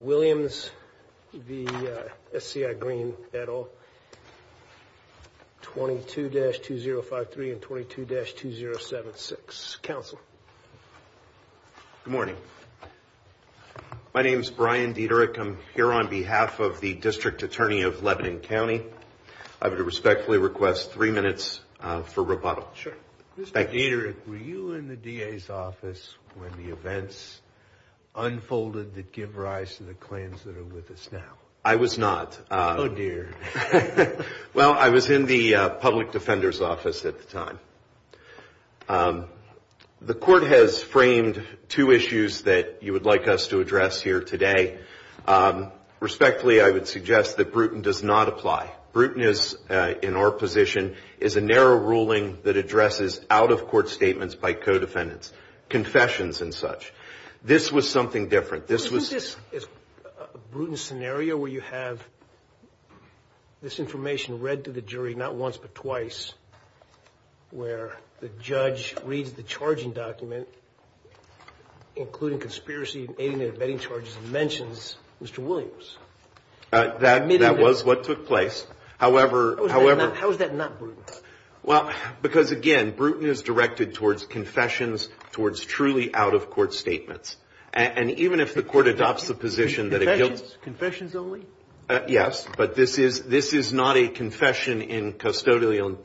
Williams v SCI Greene et al 22-2053 and 22-2076. Council. Good morning. My name is Brian Dieterich. I'm here on behalf of the District Attorney of Lebanon County. I would respectfully request three minutes for rebuttal. Sure. Thank you. Mr. Dieterich, were you in the DA's office when the events unfolded that give rise to the claims that are with us now? I was not. Oh, dear. Well, I was in the public defender's office at the time. The court has framed two issues that you would like us to address here today. Respectfully, I would suggest that Bruton does not apply. Bruton is, in our position, is a narrow ruling that addresses out-of-court statements by co-defendants, confessions and such. This was something different. This was a Bruton scenario where you have this information read to the jury not once but twice, where the judge reads the charging document, including conspiracy, aiding and abetting charges, and mentions Mr. Williams. That was what took place. How is that not Bruton? Well, because, again, Bruton is directed towards confessions, towards truly out-of-court statements. And even if the court adopts the position that it guilty... Confessions only? Yes, but this is not a confession in custodial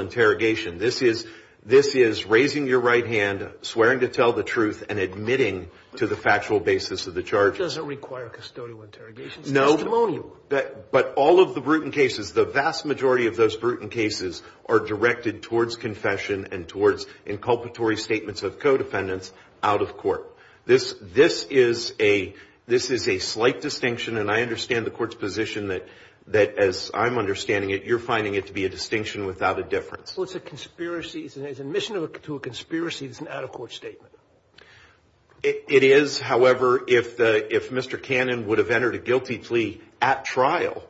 interrogation. This is raising your right hand, swearing to tell the truth and admitting to the factual basis of the charges. Does it require custodial interrogation? No, but all of the Bruton cases, the vast majority of those Bruton cases are directed towards confession and towards inculpatory statements of co-defendants out-of-court. This is a slight distinction, and I understand the court's position that, as I'm understanding it, you're finding it to be a distinction without a difference. Well, it's a conspiracy. It's an admission to a conspiracy. It's an out-of-court statement. It is, however, if Mr. Cannon would have entered a guilty plea at trial,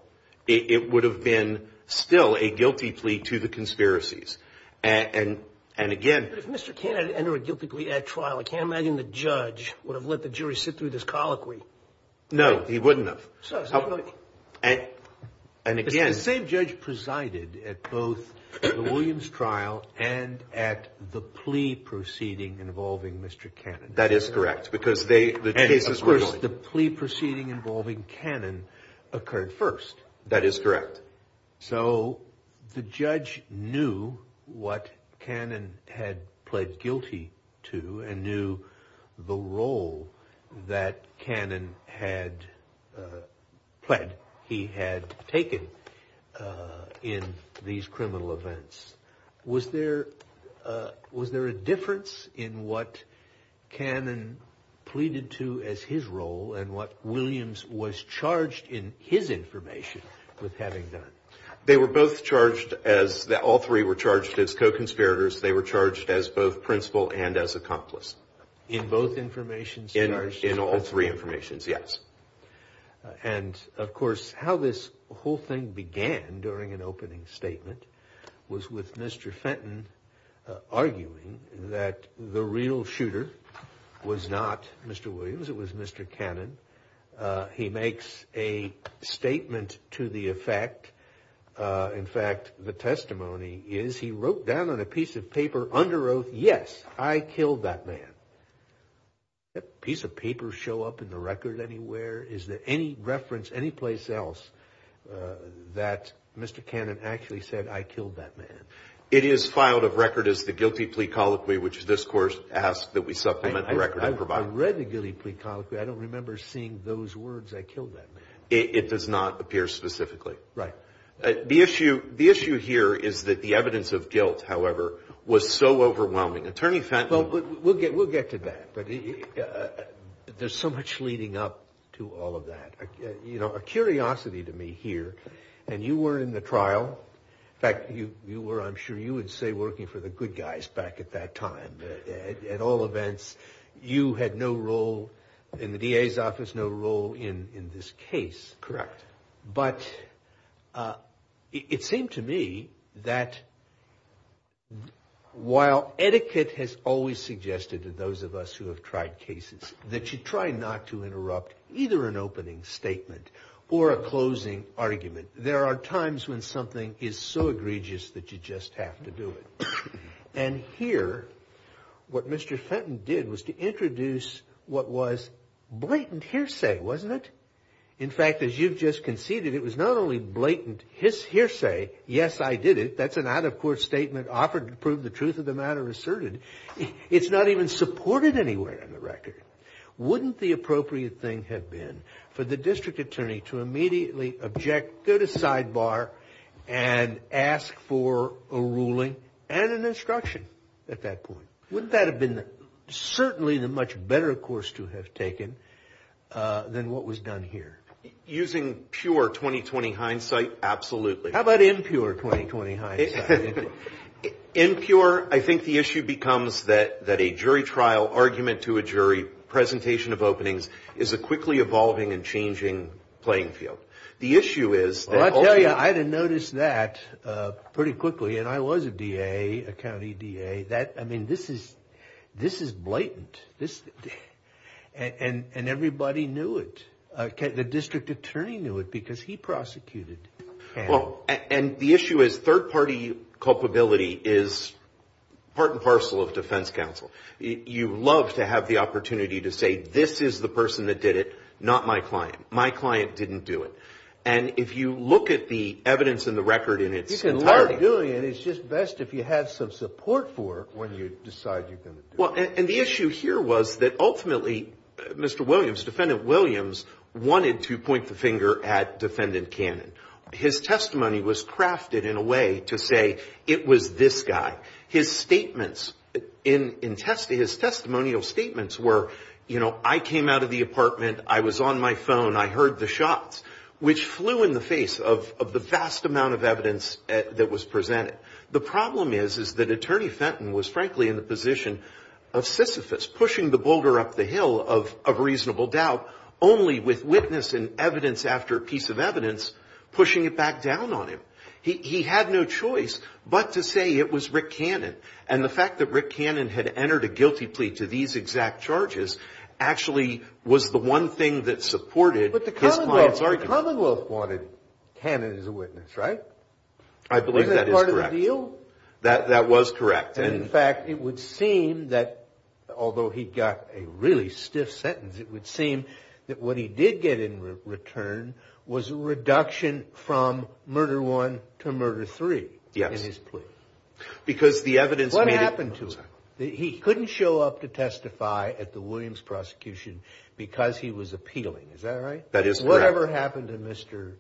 it would have been still a guilty plea to the conspiracies. But if Mr. Cannon had entered a guilty plea at trial, I can't imagine the judge would have let the jury sit through this colloquy. No, he wouldn't have. So, and again... The same judge presided at both the Williams trial and at the plea proceeding involving Mr. Cannon. That is correct, because they... And, of course, the plea proceeding involving Cannon occurred first. That is correct. So the judge knew what Cannon had pled guilty to and knew the role that Cannon had pled he had taken in these criminal events. Was there a difference in what Cannon pleaded to as his role and what Williams was charged in his information with having done? They were both charged as... All three were charged as co-conspirators. They were charged as both principal and as accomplice. In both informations? In all three informations, yes. And, of course, how this whole thing began during an opening statement was with Mr. Fenton arguing that the real shooter was not Mr. Williams. It was Mr. Cannon. He makes a statement to the effect, in fact, the testimony is he wrote down on a piece of paper under oath, yes, I killed that man. Did that piece of paper show up in the record anywhere? Is there any reference anyplace else that Mr. Cannon actually said, I killed that man? It is filed of record as the guilty plea colloquy, which this court asks that we supplement the record and provide. I read the guilty plea colloquy. I don't remember seeing those words, I killed that man. It does not appear specifically. Right. The issue here is that the evidence of guilt, however, was so overwhelming. Attorney Fenton. Well, we'll get to that, but there's so much leading up to all of that. You know, a curiosity to me here, and you were in the trial, in fact, you were, I'm sure you would say, working for the good guys back at that time. At all events, you had no role in the DA's office, no role in this case. Correct. But it seemed to me that while etiquette has always suggested to those of us who have tried cases that you try not to interrupt either an opening statement or a closing argument. There are times when something is so egregious that you just have to do it. And here, what Mr. Fenton did was to introduce what was blatant hearsay, wasn't it? In fact, as you've just conceded, it was not only blatant hearsay. Yes, I did it. That's an out-of-court statement offered to prove the truth of the matter asserted. It's not even supported anywhere on the record. Wouldn't the appropriate thing have been for the district attorney to immediately object, go to sidebar and ask for a ruling and an instruction at that point? Wouldn't that have been certainly the much better course to have taken than what was done here? Using pure 20-20 hindsight, absolutely. How about impure 20-20 hindsight? Impure, I think the issue becomes that a jury trial, argument to a jury, presentation of openings is a quickly evolving and changing playing field. The issue is... Well, I tell you, I didn't notice that pretty quickly. And I was a DA, a county DA. I mean, this is blatant. And everybody knew it. The district attorney knew it because he prosecuted. Well, and the issue is third-party culpability is part and parcel of defense counsel. You love to have the opportunity to say, this is the person that did it, not my client. My client didn't do it. And if you look at the evidence in the record in its entirety... When you decide you're going to do it. Well, and the issue here was that ultimately, Mr. Williams, Defendant Williams, wanted to point the finger at Defendant Cannon. His testimony was crafted in a way to say it was this guy. His statements in his testimonial statements were, you know, I came out of the apartment. I was on my phone. I heard the shots, which flew in the face of the vast amount of evidence that was presented. The problem is, is that Attorney Fenton was frankly in the position of Sisyphus, pushing the boulder up the hill of reasonable doubt, only with witness and evidence after piece of evidence, pushing it back down on him. He had no choice but to say it was Rick Cannon. And the fact that Rick Cannon had entered a guilty plea to these exact charges actually was the one thing that supported his client's argument. But the Commonwealth wanted Cannon as a witness, right? I believe that is correct. That was correct. And in fact, it would seem that although he got a really stiff sentence, it would seem that what he did get in return was a reduction from murder one to murder three in his plea. Because the evidence... What happened to him? He couldn't show up to testify at the Williams prosecution because he was appealing. Is that right? That is correct. And what happened to Mr.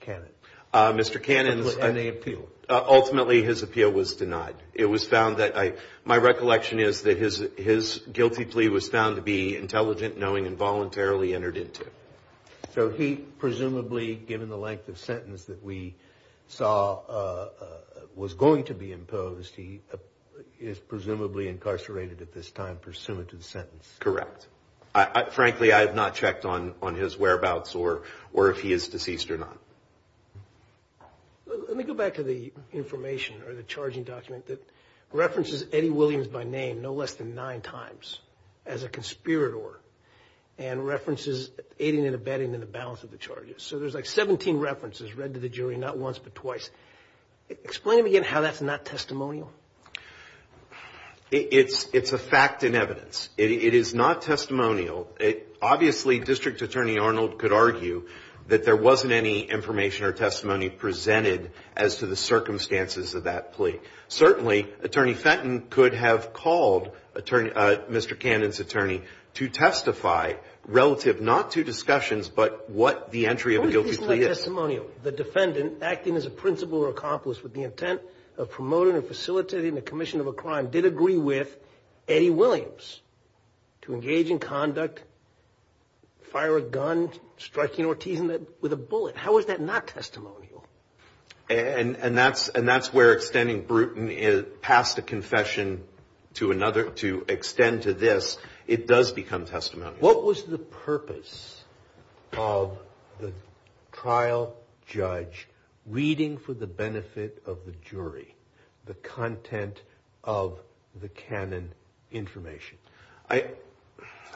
Cannon? Mr. Cannon's... And the appeal? Ultimately, his appeal was denied. It was found that... My recollection is that his guilty plea was found to be intelligent, knowing, and voluntarily entered into. So he presumably, given the length of sentence that we saw was going to be imposed, he is presumably incarcerated at this time pursuant to the sentence. Correct. Frankly, I have not checked on his whereabouts or if he is deceased or not. Let me go back to the information or the charging document that references Eddie Williams by name no less than nine times as a conspirator and references aiding and abetting in the balance of the charges. So there's like 17 references read to the jury, not once but twice. Explain to me again how that's not testimonial. It's a fact in evidence. It is not testimonial. Obviously, District Attorney Arnold could argue that there wasn't any information or testimony presented as to the circumstances of that plea. Certainly, Attorney Fenton could have called Mr. Cannon's attorney to testify relative not to discussions, but what the entry of a guilty plea is. What if he's not testimonial? The defendant, acting as a principal or accomplice with the intent of promoting or facilitating the commission of a crime, did agree with Eddie Williams. To engage in conduct, fire a gun, striking or teasing with a bullet. How is that not testimonial? And that's where extending Bruton passed a confession to extend to this. It does become testimonial. What was the purpose of the trial judge reading for the benefit of the jury the content of the Cannon information? I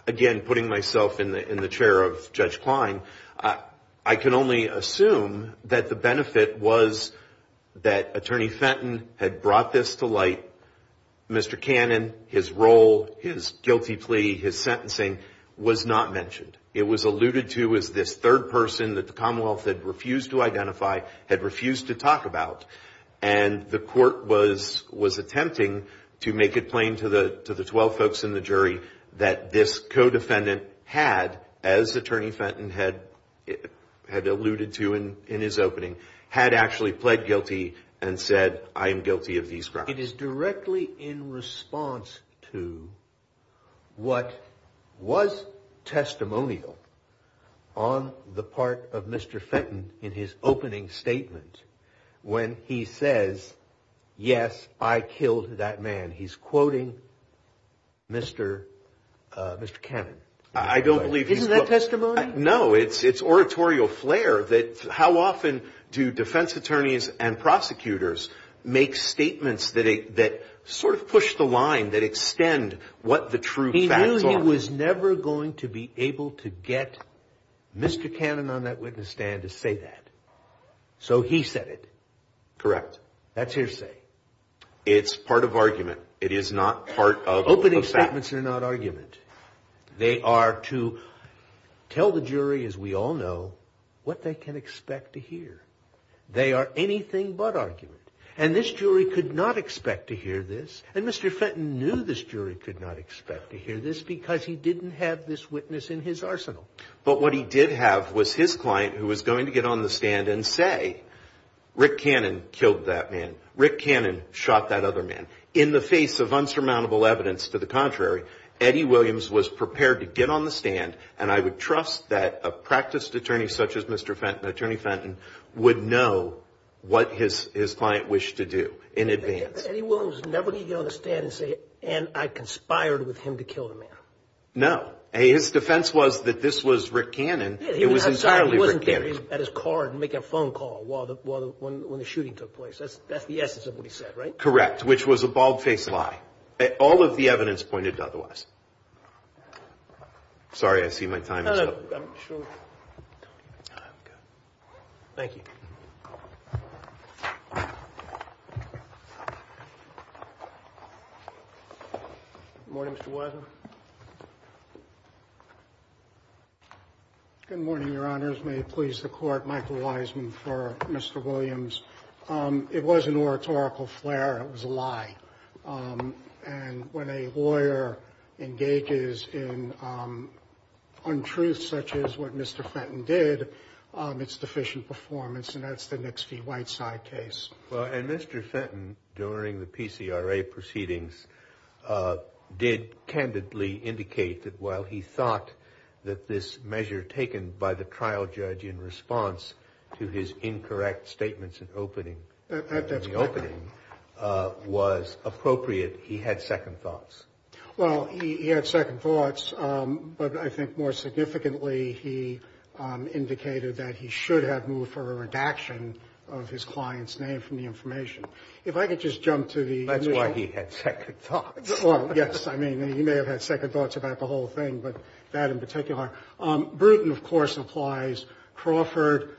again, putting myself in the chair of Judge Klein, I can only assume that the benefit was that Attorney Fenton had brought this to light. Mr. Cannon, his role, his guilty plea, his sentencing was not mentioned. It was alluded to as this third person that the Commonwealth had refused to identify, had refused to talk about. And the court was attempting to make it plain to the 12 folks in the jury that this co-defendant had, as Attorney Fenton had alluded to in his opening, had actually pled guilty and said, I am guilty of these crimes. It is directly in response to what was testimonial on the part of Mr. Fenton in his opening statement when he says, yes, I killed that man. He's quoting Mr. Mr. Cannon. I don't believe that testimony. No, it's oratorial flair that how often do defense attorneys and prosecutors make statements that sort of push the line, that extend what the true facts are. He knew he was never going to be able to get Mr. Cannon on that witness stand to say that. So he said it. Correct. That's hearsay. It's part of argument. It is not part of. Opening statements are not argument. They are to tell the jury, as we all know, what they can expect to hear. They are anything but argument. And this jury could not expect to hear this. And Mr. Fenton knew this jury could not expect to hear this because he didn't have this witness in his arsenal. But what he did have was his client who was going to get on the stand and say, Rick Cannon killed that man. Rick Cannon shot that other man in the face of insurmountable evidence. To the contrary, Eddie Williams was prepared to get on the stand. And I would trust that a practiced attorney such as Mr. Fenton, Attorney Fenton, would know what his his client wished to do in advance. Eddie Williams was never going to get on the stand and say, and I conspired with him to kill the man. No, his defense was that this was Rick Cannon. It was entirely Rick Cannon. He wasn't there at his car and make a phone call while the when the shooting took place. That's that's the essence of what he said, right? Correct. Which was a bald face lie. All of the evidence pointed to otherwise. Sorry, I see my time. Thank you. Morning, Mr. Good morning, Your Honors. May it please the court, Michael Wiseman for Mr. Williams. It was an oratorical flair. It was a lie. And when a lawyer engages in untruths such as what Mr. Fenton did, it's deficient performance. And that's the Nixvy-Whiteside case. Well, and Mr. Fenton, during the PCRA proceedings, did candidly indicate that while he thought that this measure taken by the trial judge in response to his incorrect statements in opening that that opening was appropriate. He had second thoughts. Well, he had second thoughts. But I think more significantly, he indicated that he should have moved for a redaction of his client's name from the information. If I could just jump to the. That's why he had second thoughts. Well, yes. I mean, he may have had second thoughts about the whole thing, but that in particular, Bruton, of course, applies. Crawford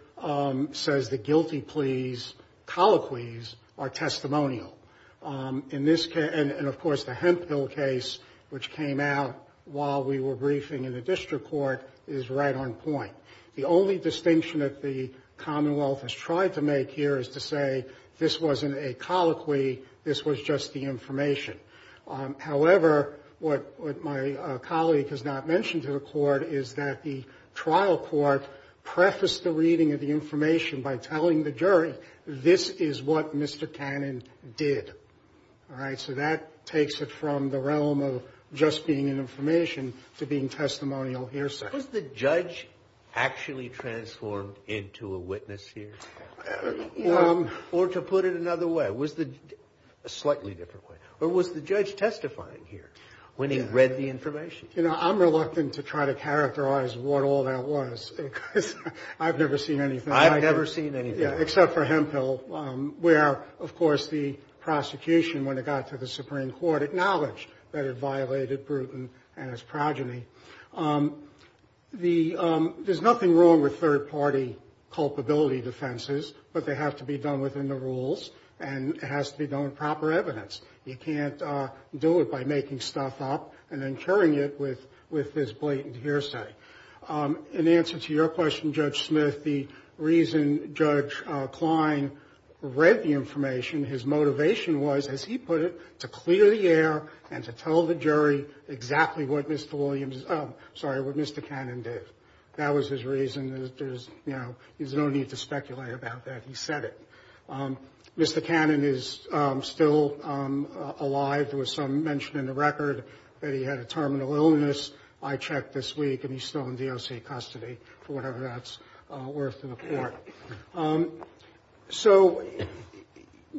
says the guilty pleas, colloquies are testimonial in this case. And of course, the Hemphill case, which came out while we were briefing in the district court, is right on point. The only distinction that the Commonwealth has tried to make here is to say this wasn't a colloquy. This was just the information. However, what my colleague has not mentioned to the court is that the trial court prefaced the reading of the information by telling the jury, this is what Mr. Cannon did. All right. So that takes it from the realm of just being an information to being testimonial here. So was the judge actually transformed into a witness here or to put it another way? Or was the judge testifying here when he read the information? You know, I'm reluctant to try to characterize what all that was because I've never seen anything like it. I've never seen anything like it. Except for Hemphill, where, of course, the prosecution, when it got to the Supreme Court, acknowledged that it violated Bruton and his progeny. There's nothing wrong with third party culpability defenses, but they have to be done within the rules. And it has to be done with proper evidence. You can't do it by making stuff up and then curing it with this blatant hearsay. In answer to your question, Judge Smith, the reason Judge Klein read the information, his motivation was, as he put it, to clear the air and to tell the jury exactly what Mr. Williams, sorry, what Mr. Cannon did. That was his reason. There's, you know, there's no need to speculate about that. He said it. Mr. Cannon is still alive. There was some mention in the record that he had a terminal illness. I checked this week and he's still in DOC custody, for whatever that's worth in the court. So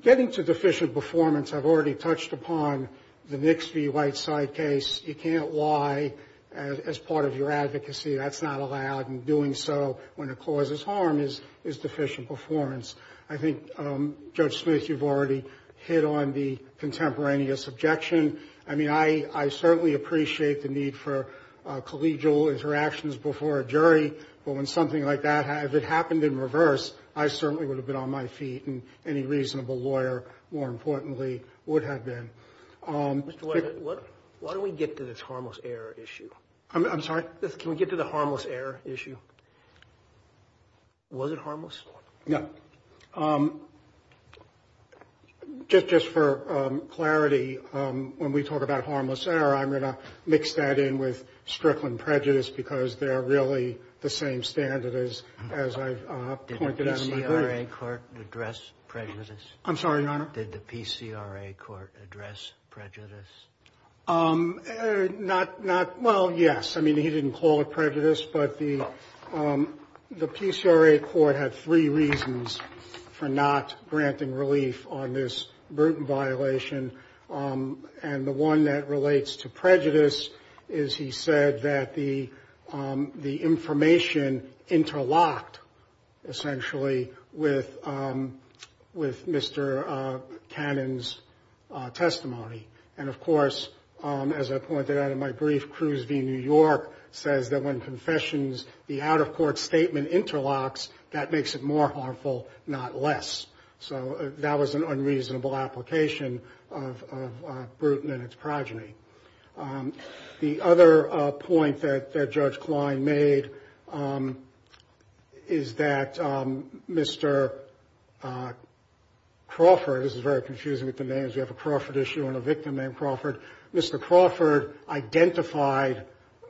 getting to deficient performance, I've already touched upon the Nixby-White side case. You can't lie as part of your advocacy. That's not allowed. And doing so when it causes harm is deficient performance. I think, Judge Smith, you've already hit on the contemporaneous objection. I mean, I certainly appreciate the need for collegial interactions before a jury. But when something like that, if it happened in reverse, I certainly would have been on my feet. And any reasonable lawyer, more importantly, would have been. Why don't we get to this harmless error issue? I'm sorry? Can we get to the harmless error issue? Was it harmless? No. Just for clarity, when we talk about harmless error, I'm going to mix that in with Strickland prejudice because they're really the same standard as I pointed out in my brief. Did the PCRA court address prejudice? I'm sorry, Your Honor? Did the PCRA court address prejudice? Not, not. Well, yes. I mean, he didn't call it prejudice, but the PCRA court had three reasons for not granting relief on this Bruton violation. And the one that relates to prejudice is he said that the information interlocked, essentially, with Mr. Cannon's testimony. And, of course, as I pointed out in my brief, Cruz v. New York says that when confessions, the out-of-court statement interlocks, that makes it more harmful, not less. So that was an unreasonable application of Bruton and its progeny. The other point that Judge Klein made is that Mr. Crawford, this is very confusing with the names. You have a Crawford issue and a victim named Crawford. Mr. Crawford identified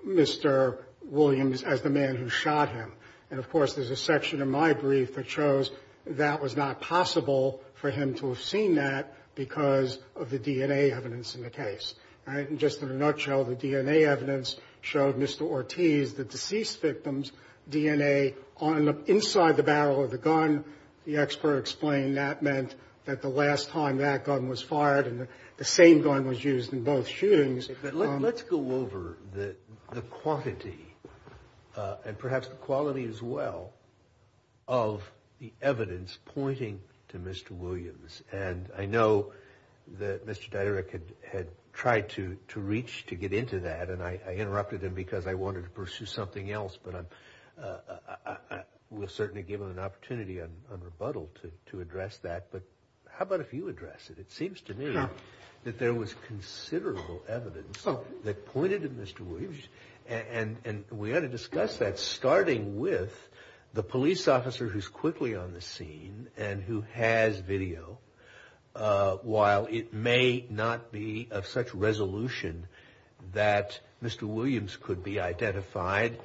Mr. Williams as the man who shot him. And, of course, there's a section in my brief that shows that was not possible for him to have seen that because of the DNA evidence in the case. And just in a nutshell, the DNA evidence showed Mr. Ortiz, the deceased victim's DNA, inside the barrel of the gun. The expert explained that meant that the last time that gun was fired and the same gun was used in both shootings. Let's go over the quantity and perhaps the quality as well of the evidence pointing to Mr. Williams. And I know that Mr. Diderich had tried to reach, to get into that, and I interrupted him because I wanted to pursue something else. But I will certainly give him an opportunity on rebuttal to address that. But how about if you address it? It seems to me that there was considerable evidence that pointed to Mr. Williams. And we ought to discuss that, starting with the police officer who's quickly on the scene and who has video. While it may not be of such resolution that Mr. Williams could be identified,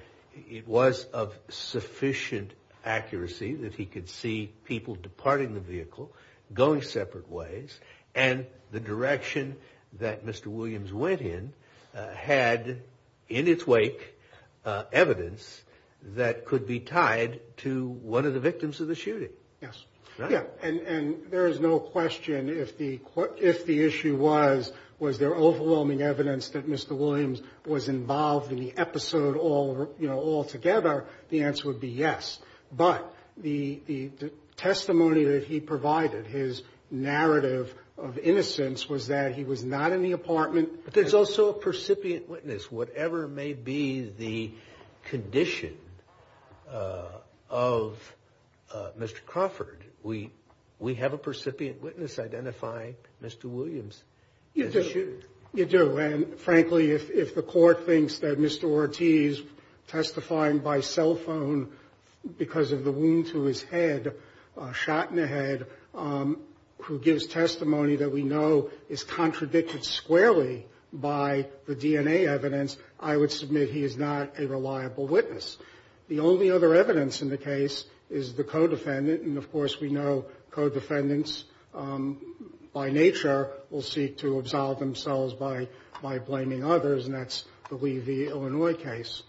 it was of sufficient accuracy that he could see people departing the vehicle, going separate ways. And the direction that Mr. Williams went in had in its wake evidence that could be tied to one of the victims of the shooting. Yes. And there is no question if the if the issue was, was there overwhelming evidence that Mr. Williams was involved in the episode all, you know, altogether? The answer would be yes. But the testimony that he provided, his narrative of innocence, was that he was not in the apartment. But there's also a percipient witness, whatever may be the condition of Mr. Crawford. We we have a percipient witness identify Mr. Williams. You do. And frankly, if the court thinks that Mr. Ortiz testifying by cell phone because of the wound to his head, shot in the head, who gives testimony that we know is contradicted squarely by the DNA evidence, I would submit he is not a reliable witness. The only other evidence in the case is the co-defendant. And of course, we know co-defendants by nature will seek to absolve themselves by by blaming others. And that's the Lee v. Illinois case.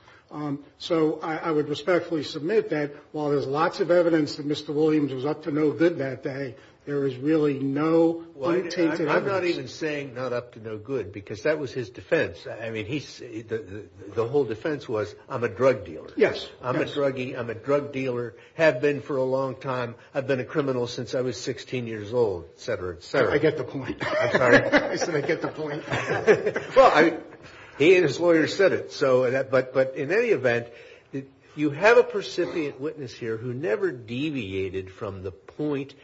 So I would respectfully submit that while there's lots of evidence that Mr. Williams was up to no good that day, there is really no. Well, I'm not even saying not up to no good, because that was his defense. I mean, he's the whole defense was I'm a drug dealer. Yes, I'm a druggy. I'm a drug dealer. Have been for a long time. I've been a criminal since I was 16 years old, et cetera, et cetera. I get the point. I'm sorry. I said I get the point. Well, I mean, he and his lawyer said it. So but but in any event, you have a percipient witness here who never deviated from the point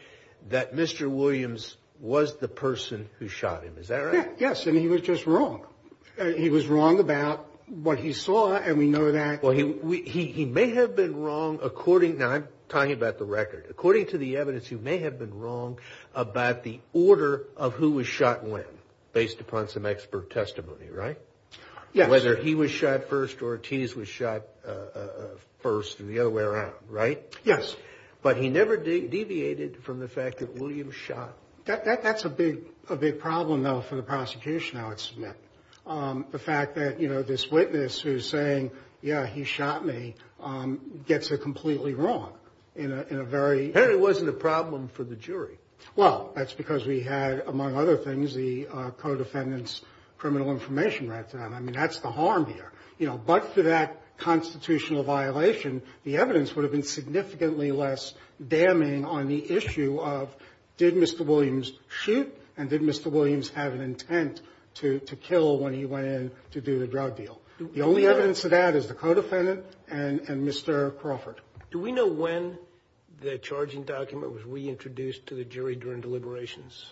that Mr. Williams was the person who shot him. Is that right? Yes. And he was just wrong. He was wrong about what he saw. And we know that. Well, he he he may have been wrong. According now, I'm talking about the record, according to the evidence, you may have been wrong about the order of who was shot when based upon some expert testimony. Right. Yes. Whether he was shot first or Ortiz was shot first and the other way around. Right. Yes. But he never deviated from the fact that William shot. That's a big, a big problem, though, for the prosecution. I would submit the fact that, you know, this witness who's saying, yeah, he shot me gets it completely wrong in a very. And it wasn't a problem for the jury. Well, that's because we had, among other things, the co-defendants criminal information. Right. And I mean, that's the harm here. But for that constitutional violation, the evidence would have been significantly less damning on the issue of did Mr. Williams shoot and did Mr. Williams have an intent to kill when he went in to do the drug deal? The only evidence of that is the co-defendant and Mr. Crawford. Do we know when the charging document was reintroduced to the jury during deliberations?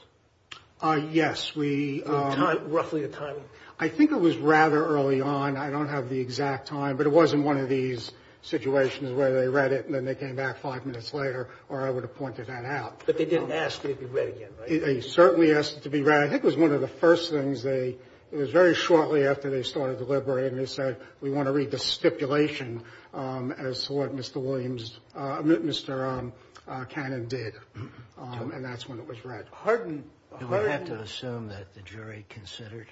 Yes, we roughly a time. I think it was rather early on. I don't have the exact time, but it was in one of these situations where they read it and then they came back five minutes later or I would have pointed that out. But they didn't ask it to be read again. They certainly asked it to be read. I think it was one of the first things they it was very shortly after they started deliberating. They said, we want to read the stipulation as what Mr. Williams, Mr. Cannon did. And that's when it was read. Harden. We have to assume that the jury considered.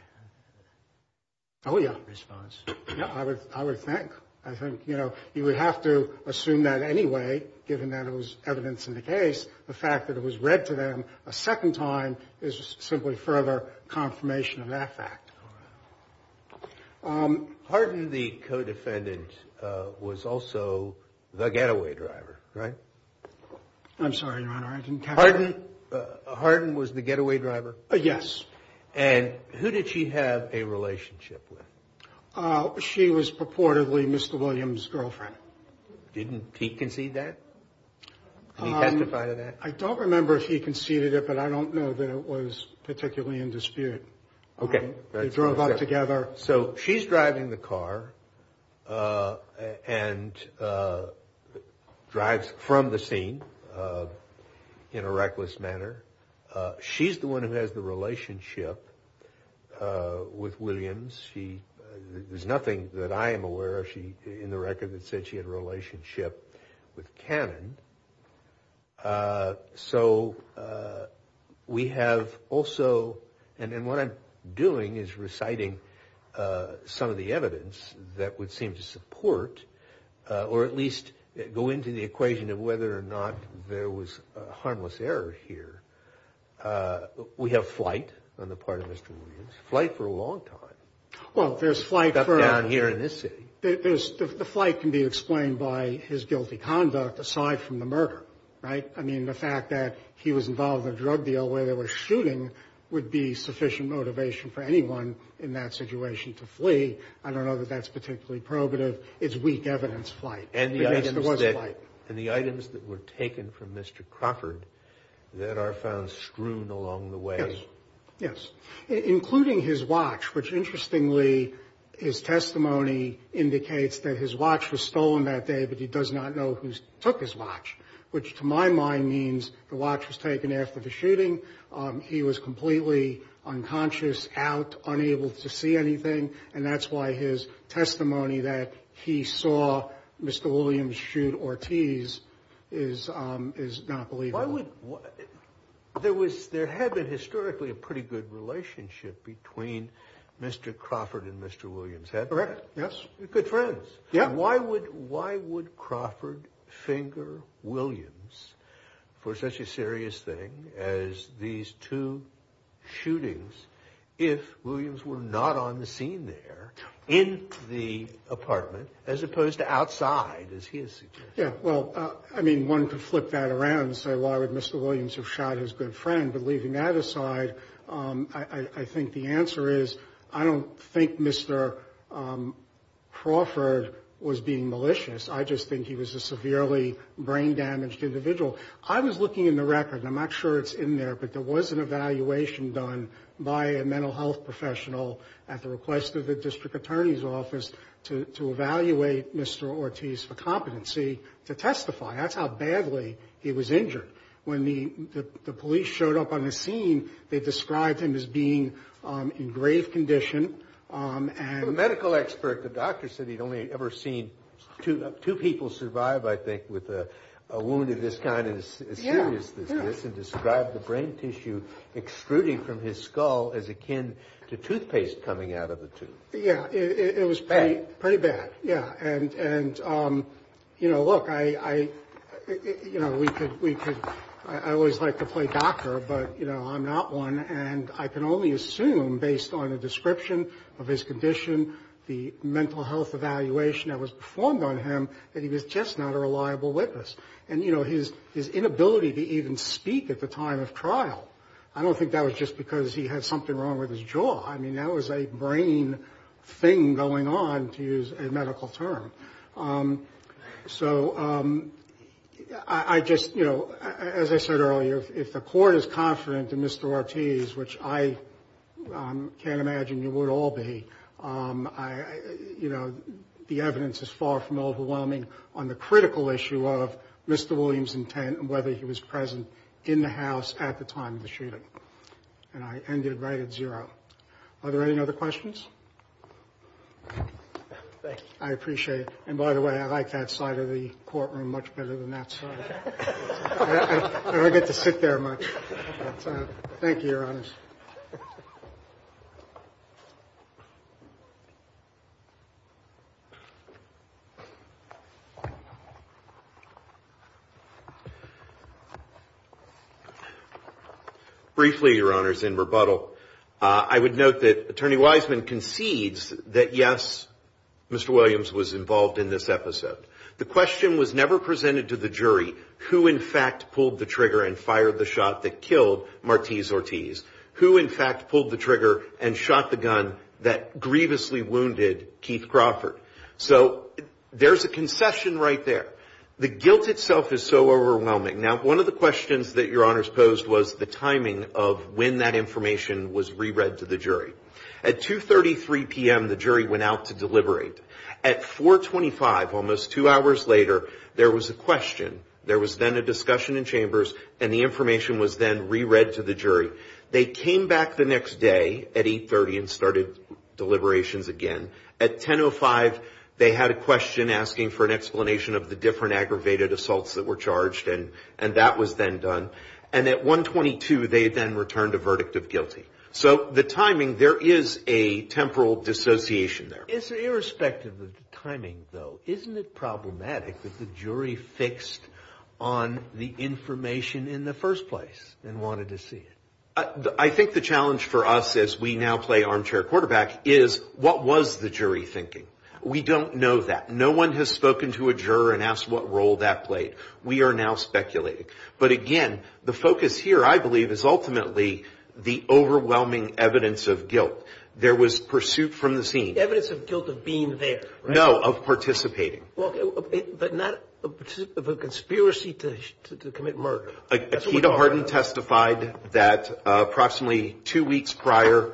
Oh, yeah, response. Yeah, I would I would think I think, you know, you would have to assume that anyway, given that it was evidence in the case, the fact that it was read to them a second time is simply further confirmation of that fact. Harden, the co-defendant, was also the getaway driver, right? I'm sorry, your honor. Harden was the getaway driver. Yes. And who did she have a relationship with? She was purportedly Mr. Williams' girlfriend. Didn't he concede that? Can you testify to that? I don't remember if he conceded it, but I don't know that it was particularly in dispute. OK. They drove up together. So she's driving the car and drives from the scene. In a reckless manner, she's the one who has the relationship with Williams. She there's nothing that I am aware of. She in the record that said she had a relationship with Cannon. So we have also and what I'm doing is reciting some of the evidence that would seem to support or at least go into the equation of whether or not there was harmless error here. We have flight on the part of Mr. Williams, flight for a long time. Well, there's flight down here in this city. The flight can be explained by his guilty conduct aside from the murder, right? I mean, the fact that he was involved in a drug deal where they were shooting would be sufficient motivation for anyone in that situation to flee. I don't know that that's particularly probative. It's weak evidence flight. And the items that were taken from Mr. Crawford that are found screwed along the way. Yes. Including his watch, which interestingly, his testimony indicates that his watch was stolen that day. But he does not know who took his watch, which to my mind means the watch was taken after the shooting. He was completely unconscious, out, unable to see anything. And that's why his testimony that he saw Mr. Williams shoot Ortiz is is not believable. There was there had been historically a pretty good relationship between Mr. Crawford and Mr. Williams, correct? Yes. Good friends. Yeah. Why would why would Crawford finger Williams for such a serious thing as these two shootings? If Williams were not on the scene there in the apartment, as opposed to outside, as he is. Yeah. Well, I mean, one could flip that around and say, why would Mr. Williams have shot his good friend? But leaving that aside, I think the answer is I don't think Mr. Crawford was being malicious. I just think he was a severely brain damaged individual. I was looking in the record. I'm not sure it's in there. But there was an evaluation done by a mental health professional at the request of the district attorney's office to evaluate Mr. Ortiz for competency to testify. That's how badly he was injured. When the police showed up on the scene, they described him as being in grave condition. And the medical expert, the doctor said he'd only ever seen two people survive, I think, with a wound of this kind. As serious as this is, and described the brain tissue extruding from his skull as akin to toothpaste coming out of the tooth. Yeah, it was pretty bad. Yeah. And, you know, look, I always like to play doctor, but, you know, I'm not one. And I can only assume, based on a description of his condition, the mental health evaluation that was performed on him, that he was just not a reliable witness. And, you know, his inability to even speak at the time of trial, I don't think that was just because he had something wrong with his jaw. I mean, that was a brain thing going on, to use a medical term. So I just, you know, as I said earlier, if the court is confident in Mr. Ortiz, which I can't imagine you would all be, you know, the evidence is far from overwhelming on the critical issue of Mr. Williams' intent and whether he was present in the house at the time of the shooting. And I end it right at zero. Are there any other questions? Thank you. I appreciate it. And by the way, I like that side of the courtroom much better than that side. I don't get to sit there much. Thank you, Your Honors. Briefly, Your Honors, in rebuttal, I would note that Attorney Wiseman concedes that, yes, Mr. Williams was involved in this episode. The question was never presented to the jury who, in fact, pulled the trigger and fired the shot that killed Martiz Ortiz, who, in fact, pulled the trigger and shot the gun that grievously wounded Keith Crawford. So there's a concession right there. The guilt itself is so overwhelming. Now, one of the questions that Your Honors posed was the timing of when that information was re-read to the jury. At 2.33 p.m., the jury went out to deliberate. At 4.25, almost two hours later, there was a question. There was then a discussion in chambers and the information was then re-read to the jury. They came back the next day at 8.30 and started deliberations again. At 10.05, they had a question asking for an explanation of the different aggravated assaults that were charged, and that was then done. And at 1.22, they then returned a verdict of guilty. So the timing, there is a temporal dissociation there. It's irrespective of the timing, though, isn't it problematic that the jury fixed on the information in the first place and wanted to see it? I think the challenge for us as we now play armchair quarterback is, what was the jury thinking? We don't know that. No one has spoken to a juror and asked what role that played. We are now speculating. But again, the focus here, I believe, is ultimately the overwhelming evidence of guilt. There was pursuit from the scene. Evidence of guilt of being there. No, of participating. Well, but not of a conspiracy to commit murder. Akita Harden testified that approximately two weeks prior,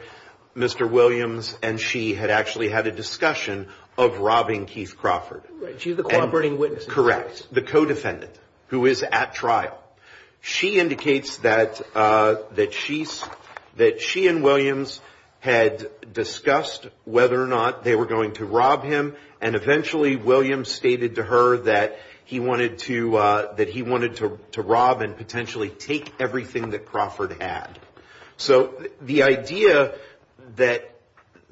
Mr. Williams and she had actually had a discussion of robbing Keith Crawford. Right. She's the cooperating witness. Correct. The co-defendant who is at trial. She indicates that she and Williams had discussed whether or not they were going to rob him. And eventually, Williams stated to her that he wanted to that he wanted to rob and potentially take everything that Crawford had. So the idea that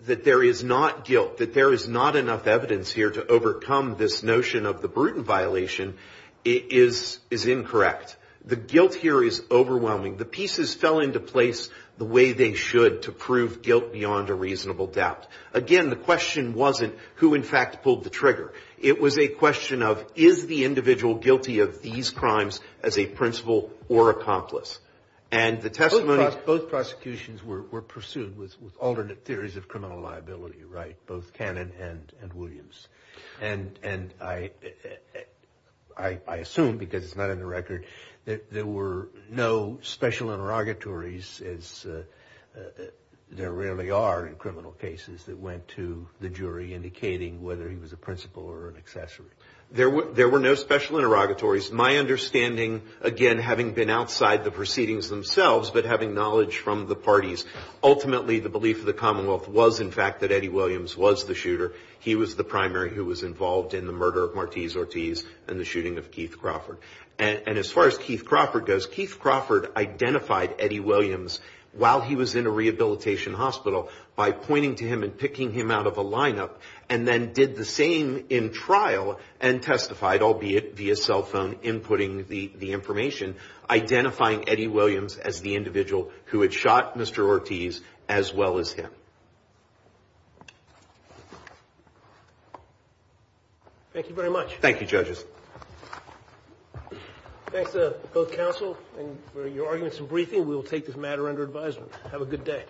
that there is not guilt, that there is not enough evidence here to overcome this notion of the Bruton violation is is incorrect. The guilt here is overwhelming. The pieces fell into place the way they should to prove guilt beyond a reasonable doubt. Again, the question wasn't who, in fact, pulled the trigger. It was a question of is the individual guilty of these crimes as a principal or accomplice? And the testimony. Both prosecutions were pursued with alternate theories of criminal liability. Right. Both Cannon and Williams. And and I I assume because it's not in the record that there were no special interrogatories as there rarely are in criminal cases. That went to the jury indicating whether he was a principal or an accessory. There were there were no special interrogatories. My understanding, again, having been outside the proceedings themselves, but having knowledge from the parties, ultimately, the belief of the Commonwealth was, in fact, that Eddie Williams was the shooter. He was the primary who was involved in the murder of Martiz Ortiz and the shooting of Keith Crawford. And as far as Keith Crawford goes, Keith Crawford identified Eddie Williams while he was in a rehabilitation hospital by pointing to him and picking him out of a lineup and then did the same in trial and testified, albeit via cell phone, inputting the information, identifying Eddie Williams as the individual who had shot Mr. Ortiz as well as him. Thank you very much. Thank you, judges. Thanks to both counsel and your arguments and briefing. We will take this matter under advisement. Have a good day.